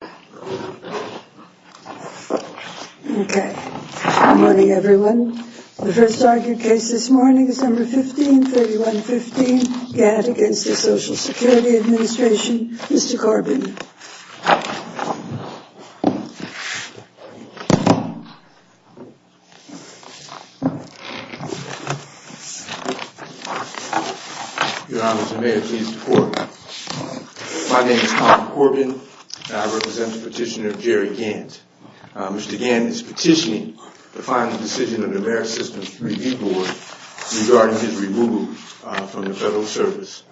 Good morning everyone. The first argued case this morning, December 15, 3115, Gantt v. Social Security Administration, Mr. Corbin. Your Honor, may I please report? My name is Tom Corbin, and I represent the petitioner Jerry Gantt. Mr. Gantt is petitioning to find the decision of the Bare Systems Review Board regarding his removal from the Federal Service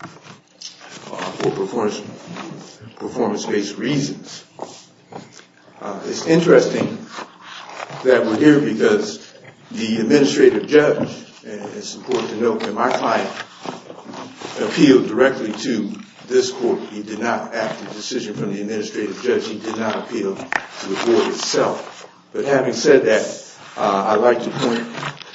for performance-based reasons. It's interesting that we're here because the administrative judge, and it's important to note that my client appealed directly to this court. He did not ask for a decision from the administrative judge. He did not appeal to the board itself. But having said that, I'd like to point,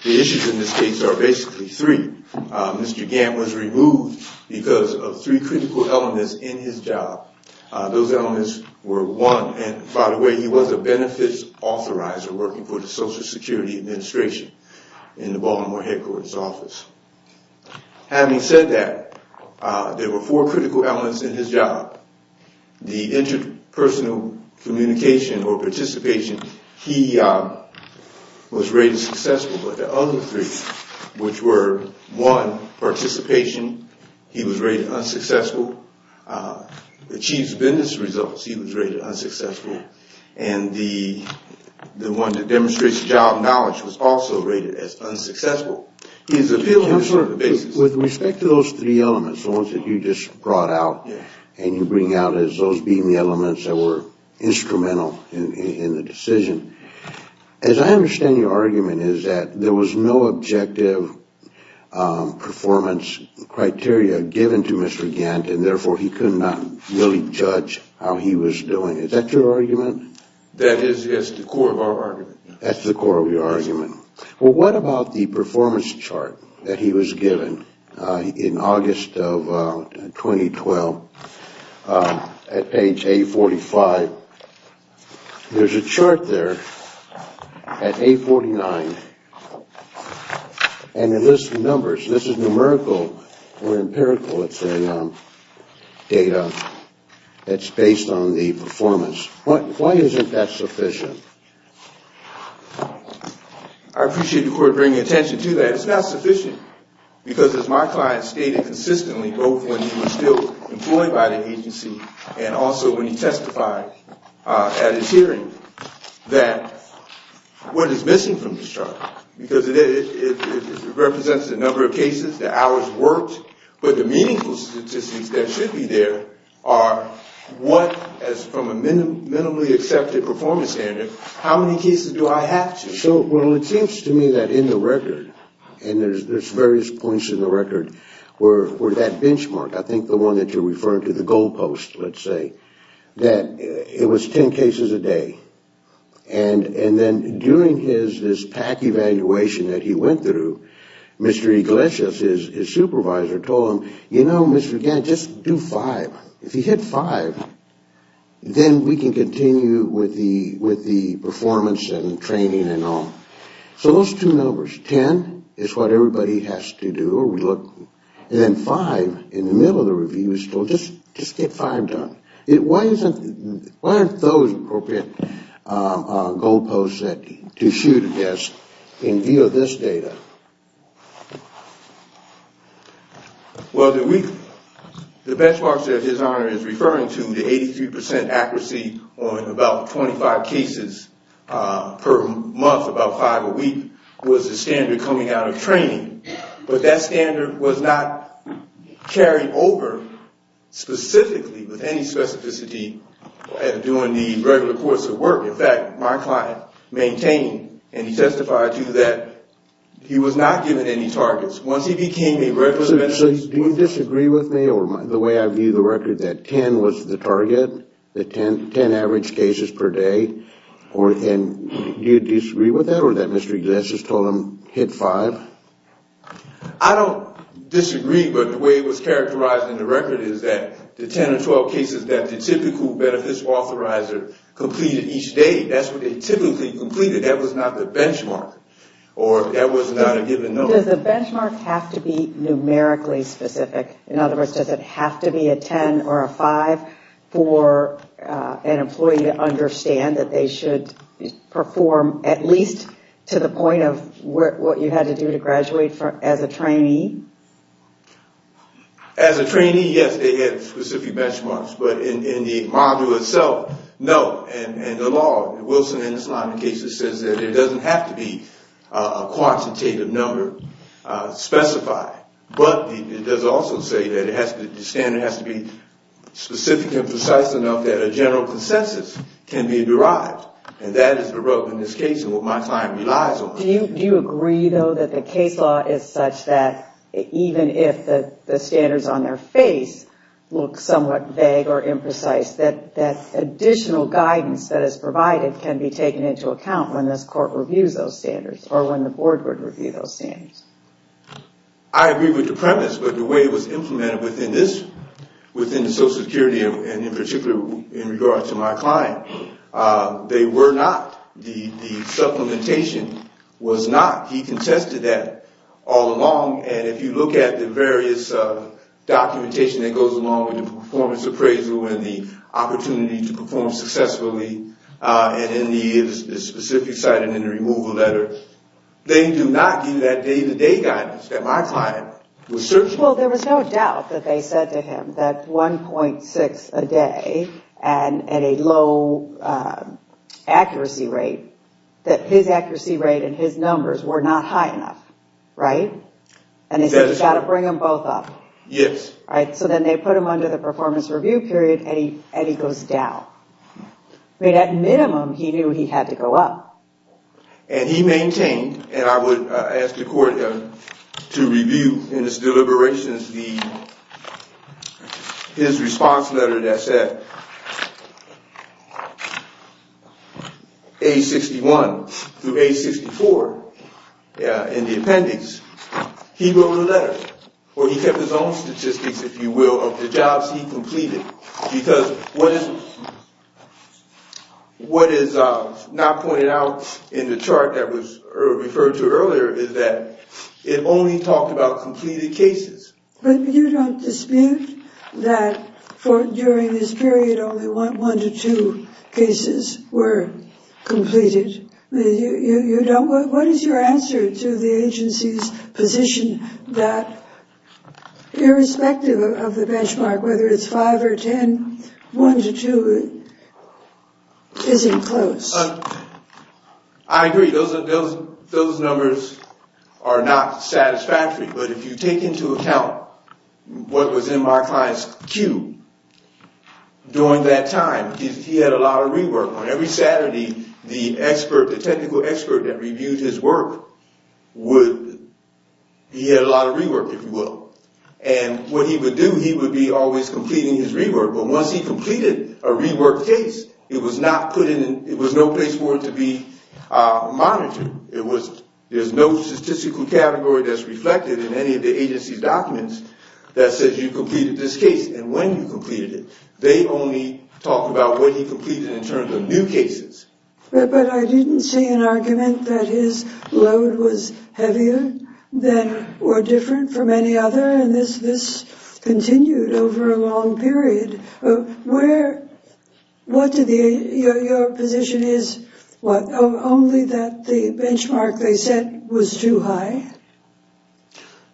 the issues in this case are basically three. Mr. Gantt was removed because of three critical elements in his job. Those elements were one, and by the way, he was a benefits authorizer working for the Social Security Administration in the Baltimore headquarters office. Having said that, there were four critical elements in his job. The interpersonal communication or participation, he was rated successful. But the other three, which were one, participation, he was rated unsuccessful. Achieves business results, he was rated unsuccessful. And the one that demonstrates job knowledge was also rated as unsuccessful. He's appealed on a certain basis. With respect to those three elements, the ones that you just brought out and you bring out as those being the elements that were instrumental in the decision, as I understand your argument is that there was no objective performance criteria given to Mr. Gantt and therefore he could not really judge how he was doing. Is that your argument? That is the core of our argument. That's the core of your argument. Well, what about the performance chart that he was given in August of 2012 at page 845? There's a chart there at page 849 and it lists the numbers. This is numerical or empirical data that's based on the performance. Why isn't that sufficient? I appreciate the Court bringing attention to that. It's not sufficient because as my client stated consistently both when he was still employed by the agency and also when he testified at his hearing that what is missing from the chart, because it represents a number of cases, the hours worked, but the meaningful statistics that should be there are what as from a minimally accepted performance standard, how many cases do I have to? Well, it seems to me that in the record and there's various points in the record where that benchmark, I think the one that you're referring to, the goal post, let's say, that it was ten cases a day and then during his PAC evaluation that he went through, Mr. Iglesias, his supervisor, told him, you know, Mr. Gant, just do five. If you hit five, then we can continue with the performance and training and all. So those two numbers, ten is what everybody has to do, and then five in the middle of the review is still just get five done. Why aren't those appropriate goal posts to shoot against in view of this data? Well, the benchmark that His Honor is referring to, the 83% accuracy on about 25 cases per month, about five a week, was a standard coming out of training. But that standard was not carried over specifically with any specificity at doing the regular course of work. In fact, my client maintained and he testified to that he was not given any targets. Once he became a regular... So do you disagree with me or the way I view the record that ten was the target, the ten average cases per day? Do you disagree with that or that Mr. Iglesias told him hit five? I don't disagree, but the way it was characterized in the record is that the ten or twelve cases that the typical benefits authorizer completed each day, that's what they typically completed. That was not the benchmark or that was not a given number. Does the benchmark have to be numerically specific? In other words, does it have to be a ten or a five for an employee to understand that they should perform at least to the point of what you had to do to graduate as a trainee? As a trainee, yes, they had specific benchmarks, but in the module itself, no. And the law, Wilson and his line of cases says that it doesn't have to be a quantitative number specified, but it does also say that the standard has to be specific and precise enough that a general consensus can be derived. And that is the rub in this case and what my client relies on. Do you agree, though, that the case law is such that even if the standards on their face look somewhat vague or imprecise, that additional guidance that is provided can be taken into account when this court reviews those standards or when the board would review those standards? I agree with the premise, but the way it was implemented within this, within the social security and in particular in regards to my client, they were not. The supplementation was not. He contested that all along, and if you look at the various documentation that goes along with the performance appraisal and the opportunity to perform successfully, and in the specific site and in the removal letter, they do not give that day-to-day guidance that my client was searching for. Well, there was no doubt that they said to him that 1.6 a day and at a low accuracy rate, that his accuracy rate and his numbers were not high enough, right? And they said you've got to bring them both up. Yes. So then they put him under the performance review period and he goes down. At minimum, he knew he had to go up. And he maintained, and I would ask the court to review in its deliberations his response letter that said age 61 through age 64 in the appendix, he wrote a letter, where he kept his own statistics, if you will, of the jobs he completed, because what is not pointed out in the chart that was referred to earlier is that it only talked about completed cases. But you don't dispute that during this period only one to two cases were completed? What is your answer to the agency's position that irrespective of the benchmark, whether it's five or ten, one to two isn't close? I agree. Those numbers are not satisfactory. But if you take into account what was in my client's queue during that time, he had a lot of rework. On every Saturday, the expert, the technical expert that reviewed his work would – he had a lot of rework, if you will. And what he would do, he would be always completing his rework. But once he completed a rework case, it was not put in – it was no place for it to be monitored. It was – there's no statistical category that's reflected in any of the agency's documents that says you completed this case and when you completed it. They only talk about what he completed in terms of new cases. But I didn't see an argument that his load was heavier than or different from any other, and this continued over a long period. Where – what did the – your position is only that the benchmark they set was too high?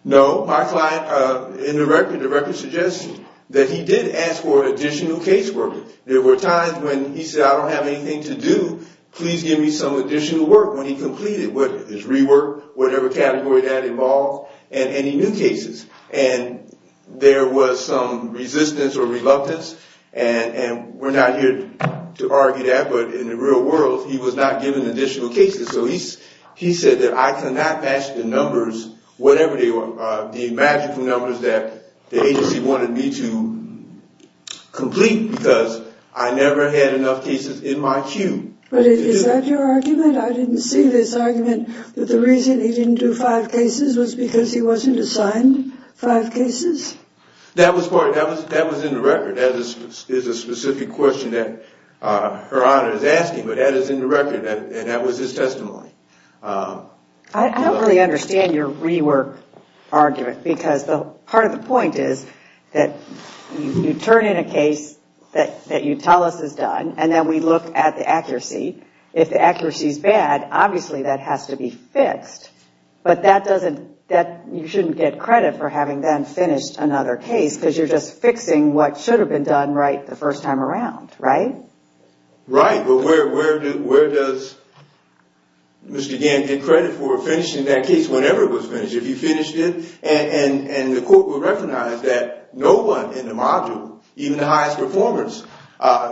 No. My client – in the record, the record suggests that he did ask for additional case work. There were times when he said, I don't have anything to do. Please give me some additional work when he completed his rework, whatever category that involved, and any new cases. And there was some resistance or reluctance, and we're not here to argue that, but in the real world, he was not given additional cases. So he said that I cannot match the numbers, whatever they were, the magical numbers that the agency wanted me to complete because I never had enough cases in my queue. But is that your argument? I didn't see this argument that the reason he didn't do five cases was because he wasn't assigned five cases? That was part – that was in the record. That is a specific question that Her Honor is asking, but that is in the record, and that was his testimony. I don't really understand your rework argument, because part of the point is that you turn in a case that you tell us is done, and then we look at the accuracy. If the accuracy is bad, obviously that has to be fixed, but that doesn't – you shouldn't get credit for having then finished another case because you're just fixing what should have been done right the first time around, right? Right, but where does Mr. Gann get credit for finishing that case whenever it was finished? And the court would recognize that no one in the module, even the highest performers,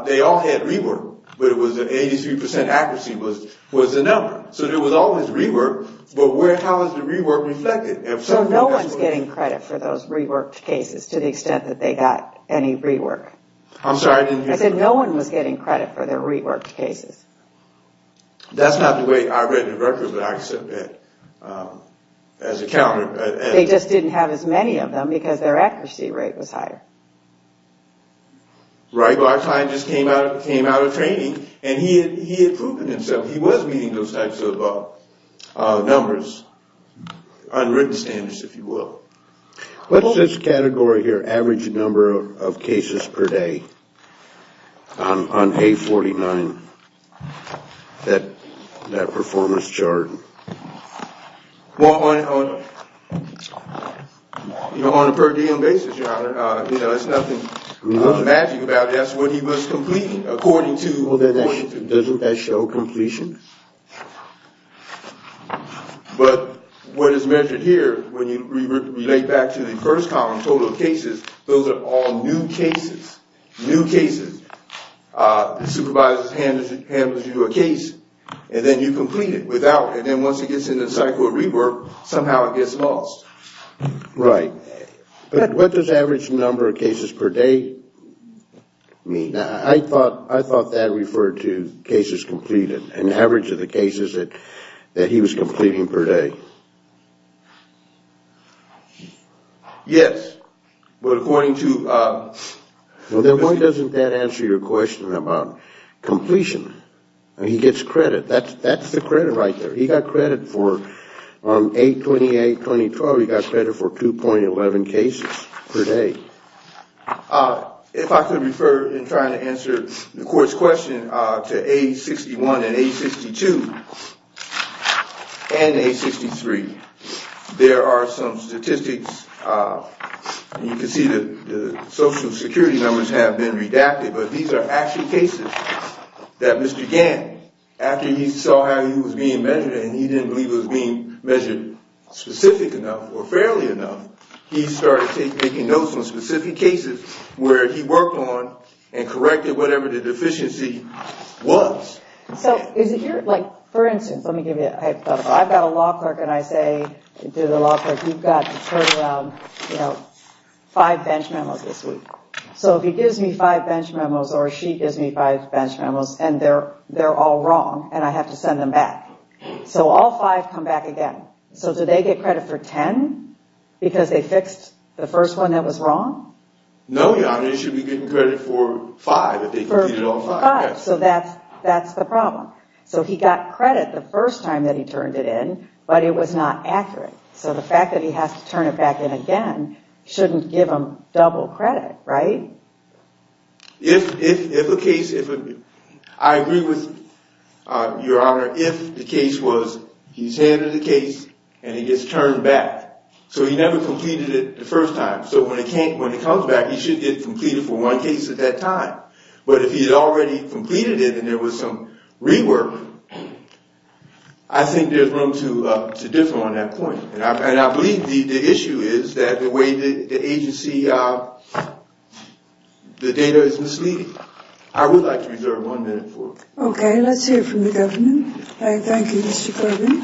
they all had rework, but it was 83% accuracy was the number. So there was always rework, but how is the rework reflected? So no one is getting credit for those reworked cases to the extent that they got any rework? I'm sorry, I didn't hear that. I said no one was getting credit for their reworked cases. That's not the way I read the records, but I accept that as a counter. They just didn't have as many of them because their accuracy rate was higher. Right, but our client just came out of training, and he had proven himself. He was meeting those types of numbers, unwritten standards, if you will. What's this category here, average number of cases per day, on A49, that performance chart? Well, on a per diem basis, Your Honor, there's nothing magic about it. That's what he was completing according to. Doesn't that show completion? But what is measured here, when you relate back to the first column, total cases, those are all new cases. New cases. The supervisor handles you a case, and then you complete it without, and then once it gets into the cycle of rework, somehow it gets lost. Right, but what does average number of cases per day mean? I thought that referred to cases completed, an average of the cases that he was completing per day. Yes, but according to. Then why doesn't that answer your question about completion? He gets credit. That's the credit right there. He got credit for 828, 2012. He got credit for 2.11 cases per day. If I could refer in trying to answer the court's question to A61 and A62 and A63. There are some statistics. You can see that the Social Security numbers have been redacted, but these are actually cases that Mr. Gant, after he saw how he was being measured and he didn't believe it was being measured specific enough or fairly enough, he started taking notes on specific cases where he worked on and corrected whatever the deficiency was. For instance, let me give you a hypothetical. I've got a law clerk and I say to the law clerk, you've got to turn around five bench memos this week. So if he gives me five bench memos or she gives me five bench memos and they're all wrong and I have to send them back. So all five come back again. So do they get credit for 10 because they fixed the first one that was wrong? No, Your Honor. They should be getting credit for five if they completed all five. So that's the problem. So he got credit the first time that he turned it in, but it was not accurate. So the fact that he has to turn it back in again shouldn't give him double credit, right? If a case – I agree with Your Honor, if the case was he's handed the case and he gets turned back. So he never completed it the first time. So when it comes back, he should get it completed for one case at that time. But if he had already completed it and there was some rework, I think there's room to differ on that point. And I believe the issue is that the way the agency – the data is misleading. I would like to reserve one minute for it. Okay, let's hear from the government. Thank you, Mr. Kirby.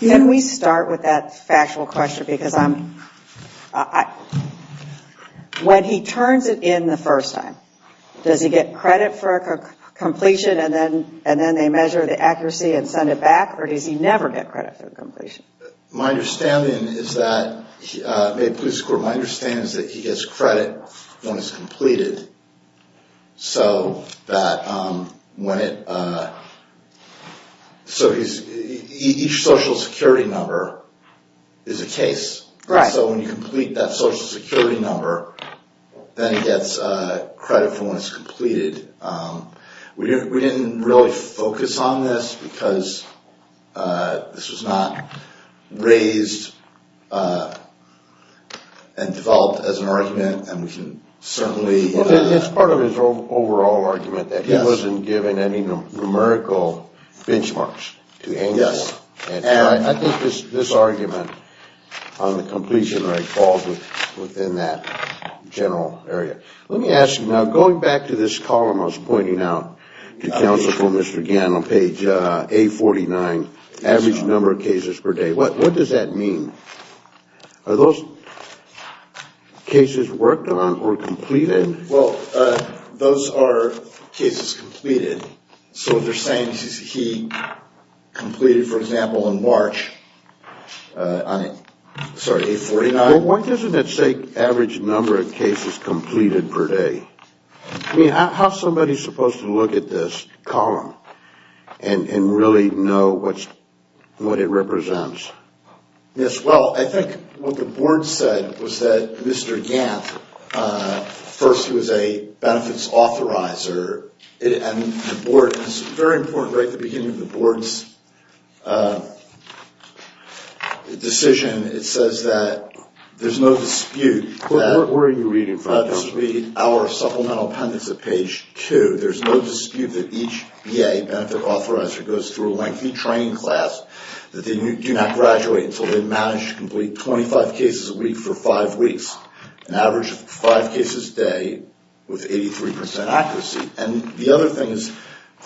Can we start with that factual question? Because when he turns it in the first time, does he get credit for completion and then they measure the accuracy and send it back? Or does he never get credit for completion? My understanding is that – may it please the Court – my understanding is that he gets credit when it's completed. So that when it – so he's – each Social Security number is a case. Right. So when you complete that Social Security number, then he gets credit for when it's completed. We didn't really focus on this because this was not raised and developed as an argument. And we can certainly – It's part of his overall argument that he wasn't given any numerical benchmarks to hang on. Yes. And I think this argument on the completion rate falls within that general area. Let me ask you now, going back to this column I was pointing out to counsel for Mr. Gann on page 849, average number of cases per day, what does that mean? Are those cases worked on or completed? Well, those are cases completed. So if they're saying he completed, for example, in March – sorry, 849. Why doesn't it say average number of cases completed per day? I mean, how is somebody supposed to look at this column and really know what it represents? Yes, well, I think what the Board said was that Mr. Gant, first he was a benefits authorizer, and the Board – it's very important right at the beginning of the Board's decision. It says that there's no dispute that – Where are you reading from? This would be our supplemental appendix at page 2. There's no dispute that each BA, benefit authorizer, goes through a lengthy training class, that they do not graduate until they've managed to complete 25 cases a week for five weeks, an average of five cases a day with 83 percent accuracy. And the other thing is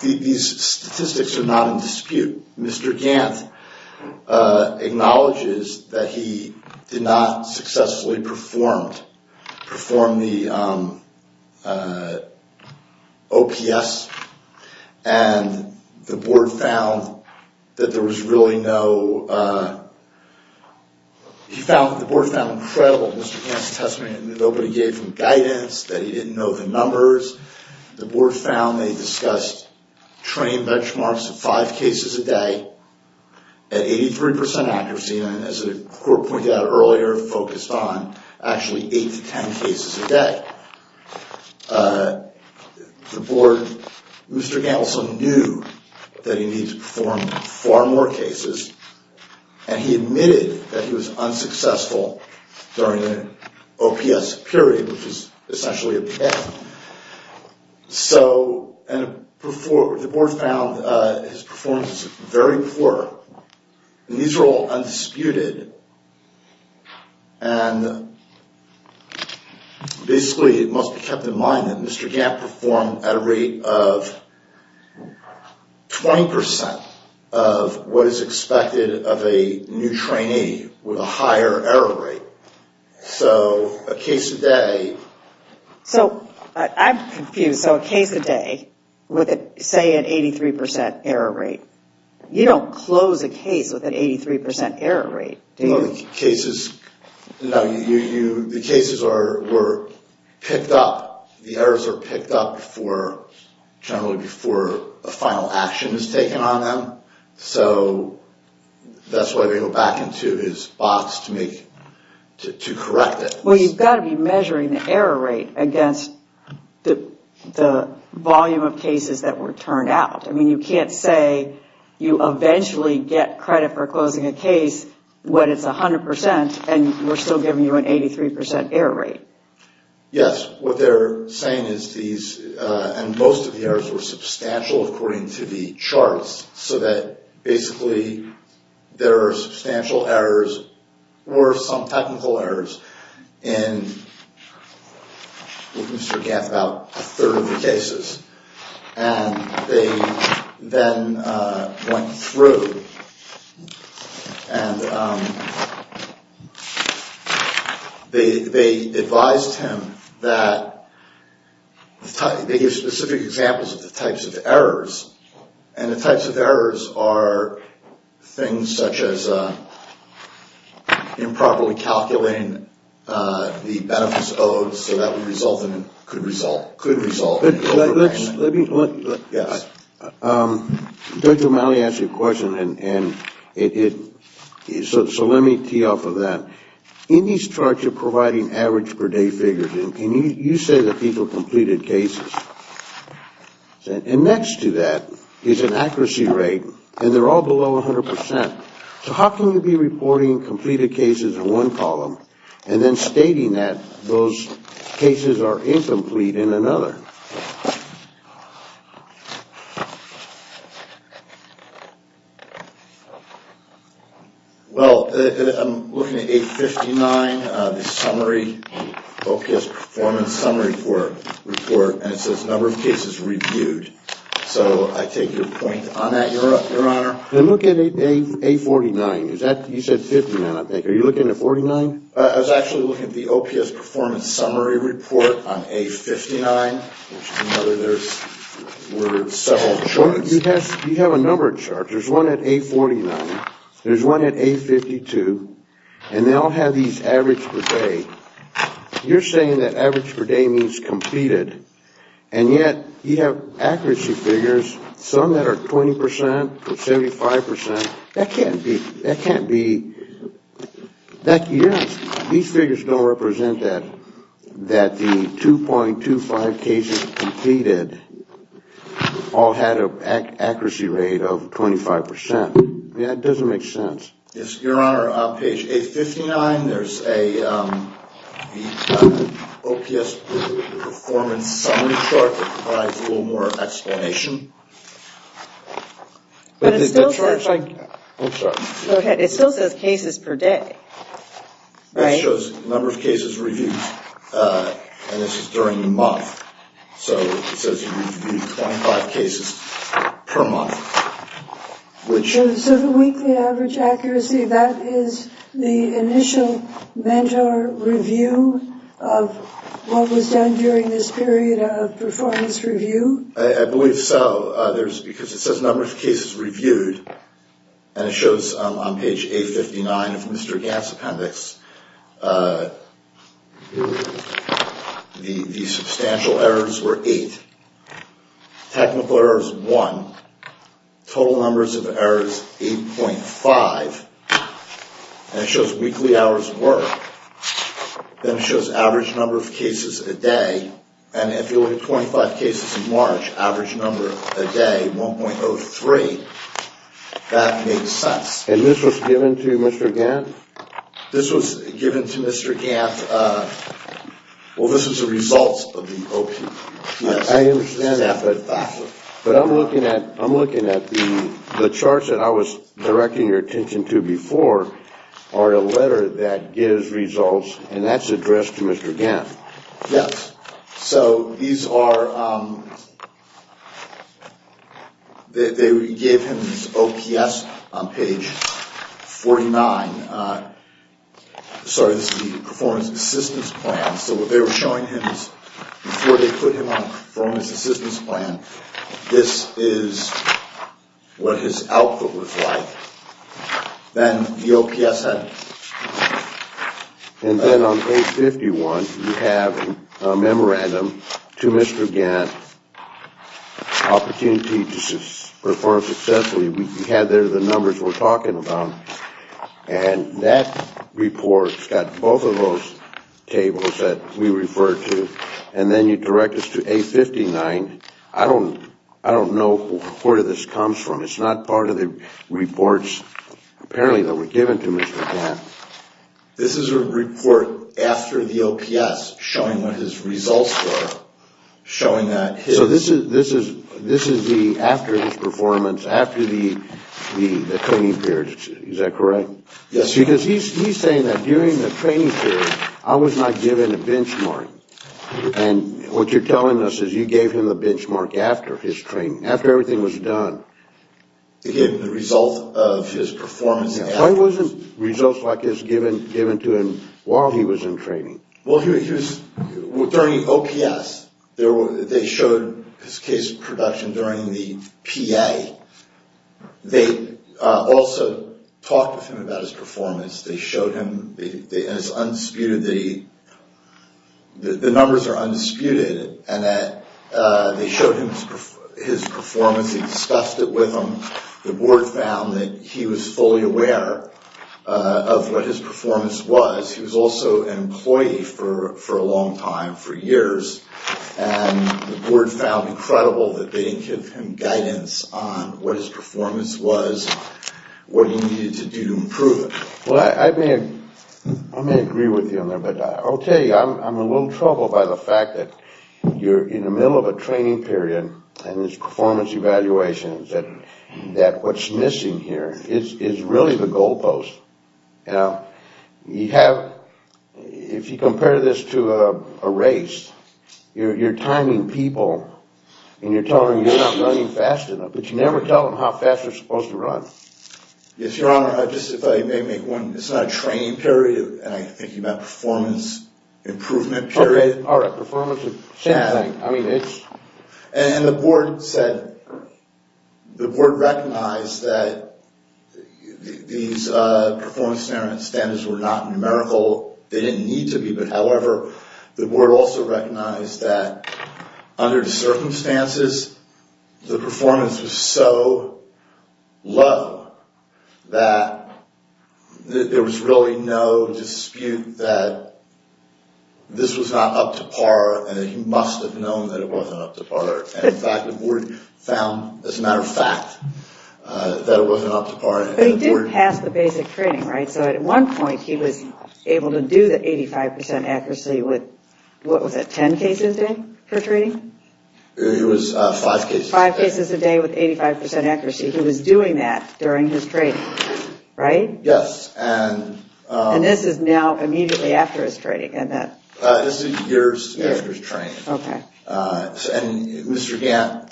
these statistics are not in dispute. Mr. Gant acknowledges that he did not successfully perform the OPS, and the Board found that there was really no – he found – the Board found incredible in Mr. Gant's testimony that nobody gave him guidance, that he didn't know the numbers. The Board found they discussed training benchmarks of five cases a day at 83 percent accuracy, and as the Court pointed out earlier, focused on actually eight to ten cases a day. The Board – Mr. Gant also knew that he needed to perform far more cases, and he admitted that he was unsuccessful during the OPS period, which is essentially a PA. So – and the Board found his performance was very poor. And these are all undisputed, and basically it must be kept in mind that Mr. Gant performed at a rate of 20 percent of what is expected of a new trainee with a higher error rate. So a case a day – So I'm confused. So a case a day with, say, an 83 percent error rate, you don't close a case with an 83 percent error rate, do you? No, the cases – no, you – the cases are – were picked up. The errors are picked up for – generally before a final action is taken on them. So that's why they go back into his box to make – to correct it. Well, you've got to be measuring the error rate against the volume of cases that were turned out. I mean, you can't say you eventually get credit for closing a case when it's 100 percent, and we're still giving you an 83 percent error rate. Yes. What they're saying is these – and most of the errors were substantial according to the charts, so that basically there are substantial errors or some technical errors in – with Mr. Gant, about a third of the cases. And they then went through and they advised him that – they gave specific examples of the types of errors, and the types of errors are things such as improperly calculating the benefits owed so that would result in – Yes. Judge O'Malley asked you a question, and it – so let me tee off of that. In these charts you're providing average per day figures, and you say that people completed cases. And next to that is an accuracy rate, and they're all below 100 percent. So how can you be reporting completed cases in one column, and then stating that those cases are incomplete in another? Well, I'm looking at 859, the summary, the focused performance summary report, and it says number of cases reviewed. So I take your point on that, Your Honor. I'm looking at A49. Is that – you said 59, I think. Are you looking at 49? I was actually looking at the OPS performance summary report on A59, which is another – there were several charts. You have a number of charts. There's one at A49. There's one at A52. And they all have these average per day. You're saying that average per day means completed, and yet you have accuracy figures, some that are 20 percent, 75 percent. That can't be – that can't be – these figures don't represent that the 2.25 cases completed all had an accuracy rate of 25 percent. I mean, that doesn't make sense. Your Honor, on page 859, there's a – the OPS performance summary chart that provides a little more explanation. But it still says – I'm sorry. Go ahead. It still says cases per day, right? It shows number of cases reviewed, and this is during the month. So it says you reviewed 25 cases per month, which – So the weekly average accuracy, that is the initial mentor review of what was done during this period of performance review? I believe so. There's – because it says number of cases reviewed, and it shows on page 859 of Mr. Gant's appendix, the substantial errors were eight. Technical errors, one. Total numbers of errors, 8.5. And it shows weekly hours were. Then it shows average number of cases a day. And if you look at 25 cases in March, average number a day, 1.03. That makes sense. And this was given to Mr. Gant? This was given to Mr. Gant – well, this is the results of the OPS. I understand that, but I'm looking at the charts that I was directing your attention to before are a letter that gives results, and that's addressed to Mr. Gant. Yes. So these are – they gave him his OPS on page 49. Sorry, this is the performance assistance plan. So what they were showing him is before they put him on a performance assistance plan, this is what his output was like. And then on page 51, you have a memorandum to Mr. Gant, opportunity to perform successfully. We had there the numbers we're talking about, and that report's got both of those tables that we referred to. And then you direct us to A59. I don't know where this comes from. It's not part of the reports, apparently, that were given to Mr. Gant. This is a report after the OPS showing what his results were, showing that his – So this is the – after his performance, after the training period. Is that correct? Yes. Because he's saying that during the training period, I was not given a benchmark. And what you're telling us is you gave him the benchmark after his training, after everything was done. Again, the result of his performance. Why wasn't results like this given to him while he was in training? Well, he was – during OPS, they showed his case production during the PA. They also talked with him about his performance. They showed him – and it's undisputed that he – the numbers are undisputed, and that they showed him his performance. He discussed it with him. The board found that he was fully aware of what his performance was. He was also an employee for a long time, for years. And the board found incredible that they didn't give him guidance on what his performance was, what he needed to do to improve it. Well, I may agree with you on that. But I'll tell you, I'm a little troubled by the fact that you're in the middle of a training period, and there's performance evaluations, and that what's missing here is really the goalpost. You know, you have – if you compare this to a race, you're timing people, and you're telling them you're not running fast enough, but you never tell them how fast they're supposed to run. Yes, Your Honor. Just if I may make one – it's not a training period, and I'm thinking about performance improvement period. Okay. All right. Performance is the same thing. And the board said – the board recognized that these performance standards were not numerical. They didn't need to be, but however, the board also recognized that under the circumstances, the performance was so low that there was really no dispute that this was not up to par and that he must have known that it wasn't up to par. And, in fact, the board found, as a matter of fact, that it wasn't up to par. But he did pass the basic training, right? So at one point, he was able to do the 85 percent accuracy with – what was it, 10 cases a day for training? It was five cases a day. Five cases a day with 85 percent accuracy. He was doing that during his training, right? Yes. And this is now immediately after his training, isn't it? This is years after his training. Okay. And Mr. Gant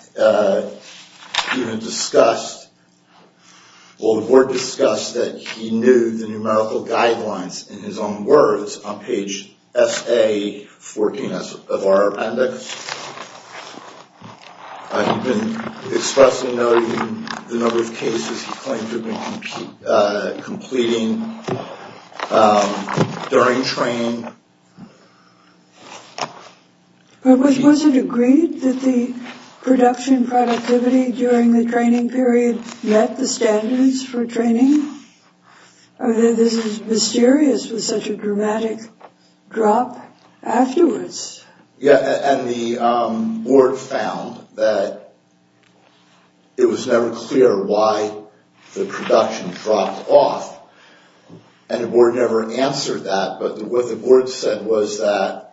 even discussed – well, the board discussed that he knew the numerical guidelines in his own words on page SA-14 of our appendix. He'd been expressing the number of cases he claimed to have been completing during training. But was it agreed that the production productivity during the training period met the standards for training? This is mysterious with such a dramatic drop afterwards. Yeah, and the board found that it was never clear why the production dropped off. And the board never answered that. But what the board said was that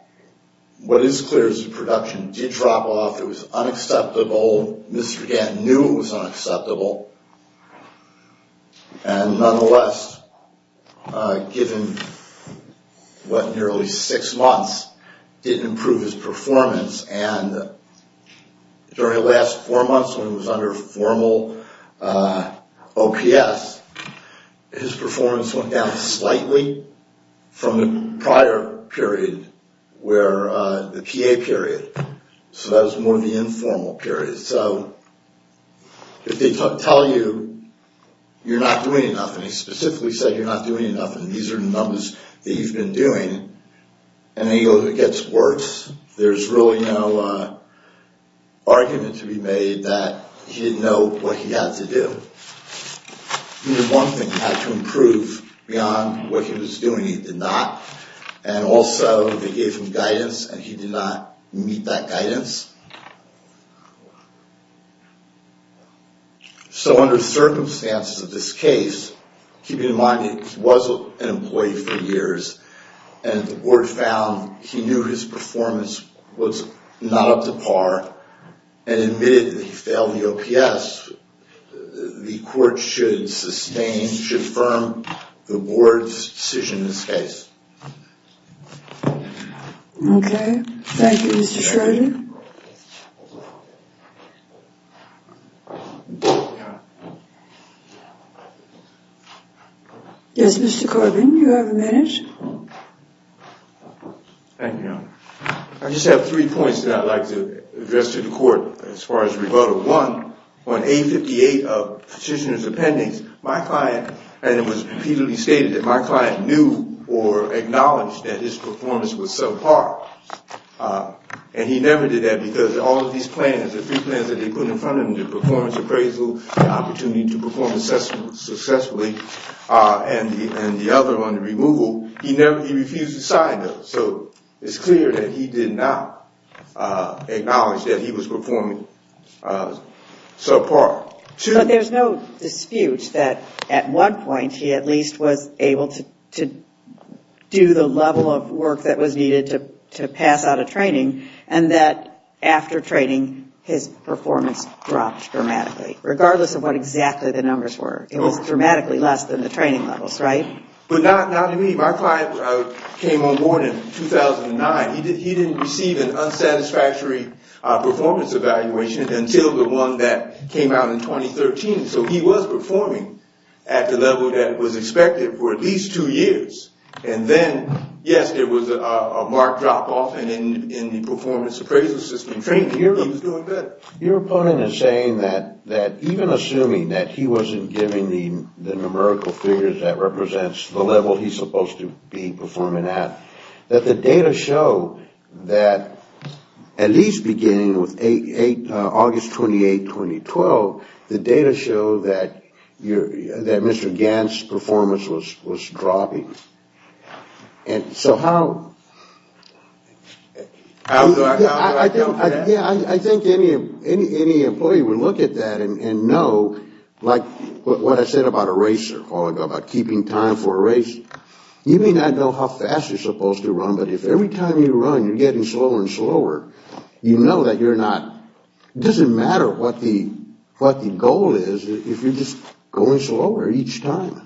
what is clear is the production did drop off. It was unacceptable. Mr. Gant knew it was unacceptable. And nonetheless, given what, nearly six months, didn't improve his performance. And during the last four months when he was under formal OPS, his performance went down slightly from the prior period where – the PA period. So that was more of the informal period. So if they tell you you're not doing enough, and he specifically said you're not doing enough, and these are the numbers that you've been doing, and then he goes, it gets worse. There's really no argument to be made that he didn't know what he had to do. He did one thing. He had to improve beyond what he was doing. He did not. And also, they gave him guidance, and he did not meet that guidance. So under circumstances of this case, keeping in mind that he was an employee for years, and the board found he knew his performance was not up to par, and admitted that he failed the OPS, the court should sustain, should affirm the board's decision in this case. Okay. Thank you, Mr. Schrodinger. Yes, Mr. Corbin, you have a minute. Thank you, Your Honor. I just have three points that I'd like to address to the court as far as rebuttal. One, on A58 of Petitioner's Appendix, my client, and it was repeatedly stated that my client knew or acknowledged that his performance was subpar, and he never did that because all of these plans, the three plans that they put in front of him, the performance appraisal, the opportunity to perform assessments successfully, and the other one, the removal, he refused to sign those. So it's clear that he did not acknowledge that he was performing subpar. But there's no dispute that at one point, he at least was able to do the level of work that was needed to pass out a training, and that after training, his performance dropped dramatically, regardless of what exactly the numbers were. It was dramatically less than the training levels, right? But not to me. My client came on board in 2009. He didn't receive an unsatisfactory performance evaluation until the one that came out in 2013. So he was performing at the level that was expected for at least two years. And then, yes, there was a marked drop-off in the performance appraisal system training. He was doing better. Your opponent is saying that even assuming that he wasn't given the numerical figures that represents the level he's supposed to be performing at, that the data show that at least beginning with August 28, 2012, the data show that Mr. Gant's performance was dropping. And so how do I deal with that? Yeah, I think any employee would look at that and know, like what I said about a racer, about keeping time for a racer. You may not know how fast you're supposed to run, but if every time you run you're getting slower and slower, you know that you're not, it doesn't matter what the goal is if you're just going slower each time.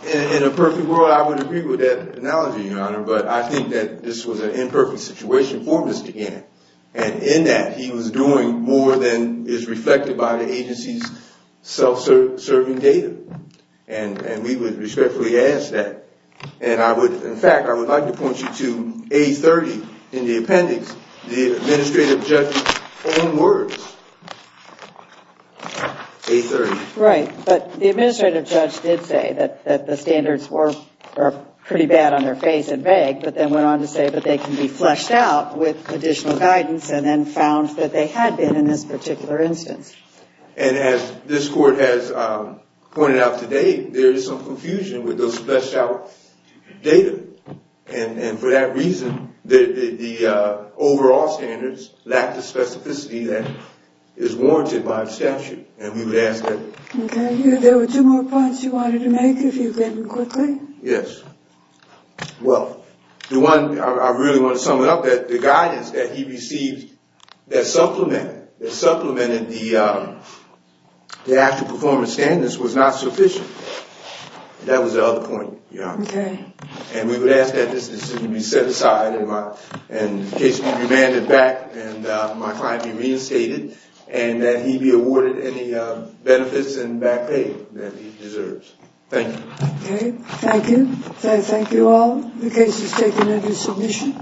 In a perfect world, I would agree with that analogy, Your Honor, but I think that this was an imperfect situation for Mr. Gant. And in that, he was doing more than is reflected by the agency's self-serving data. And we would respectfully ask that. And I would, in fact, I would like to point you to A30 in the appendix, the administrative judge's own words. A30. Right, but the administrative judge did say that the standards were pretty bad on their face and vague, but then went on to say that they can be fleshed out with additional guidance and then found that they had been in this particular instance. And as this court has pointed out today, there is some confusion with those fleshed out data. And for that reason, the overall standards lack the specificity that is warranted by the statute. And we would ask that. Okay. There were two more points you wanted to make, if you can quickly. Yes. Well, the one I really want to sum it up, that the guidance that he received, that supplemented the actual performance standards was not sufficient. That was the other point, Your Honor. Okay. And we would ask that this be set aside and the case be remanded back and my client be reinstated and that he be awarded any benefits and back pay that he deserves. Thank you. Okay. Thank you. Thank you all. The case is taken into submission.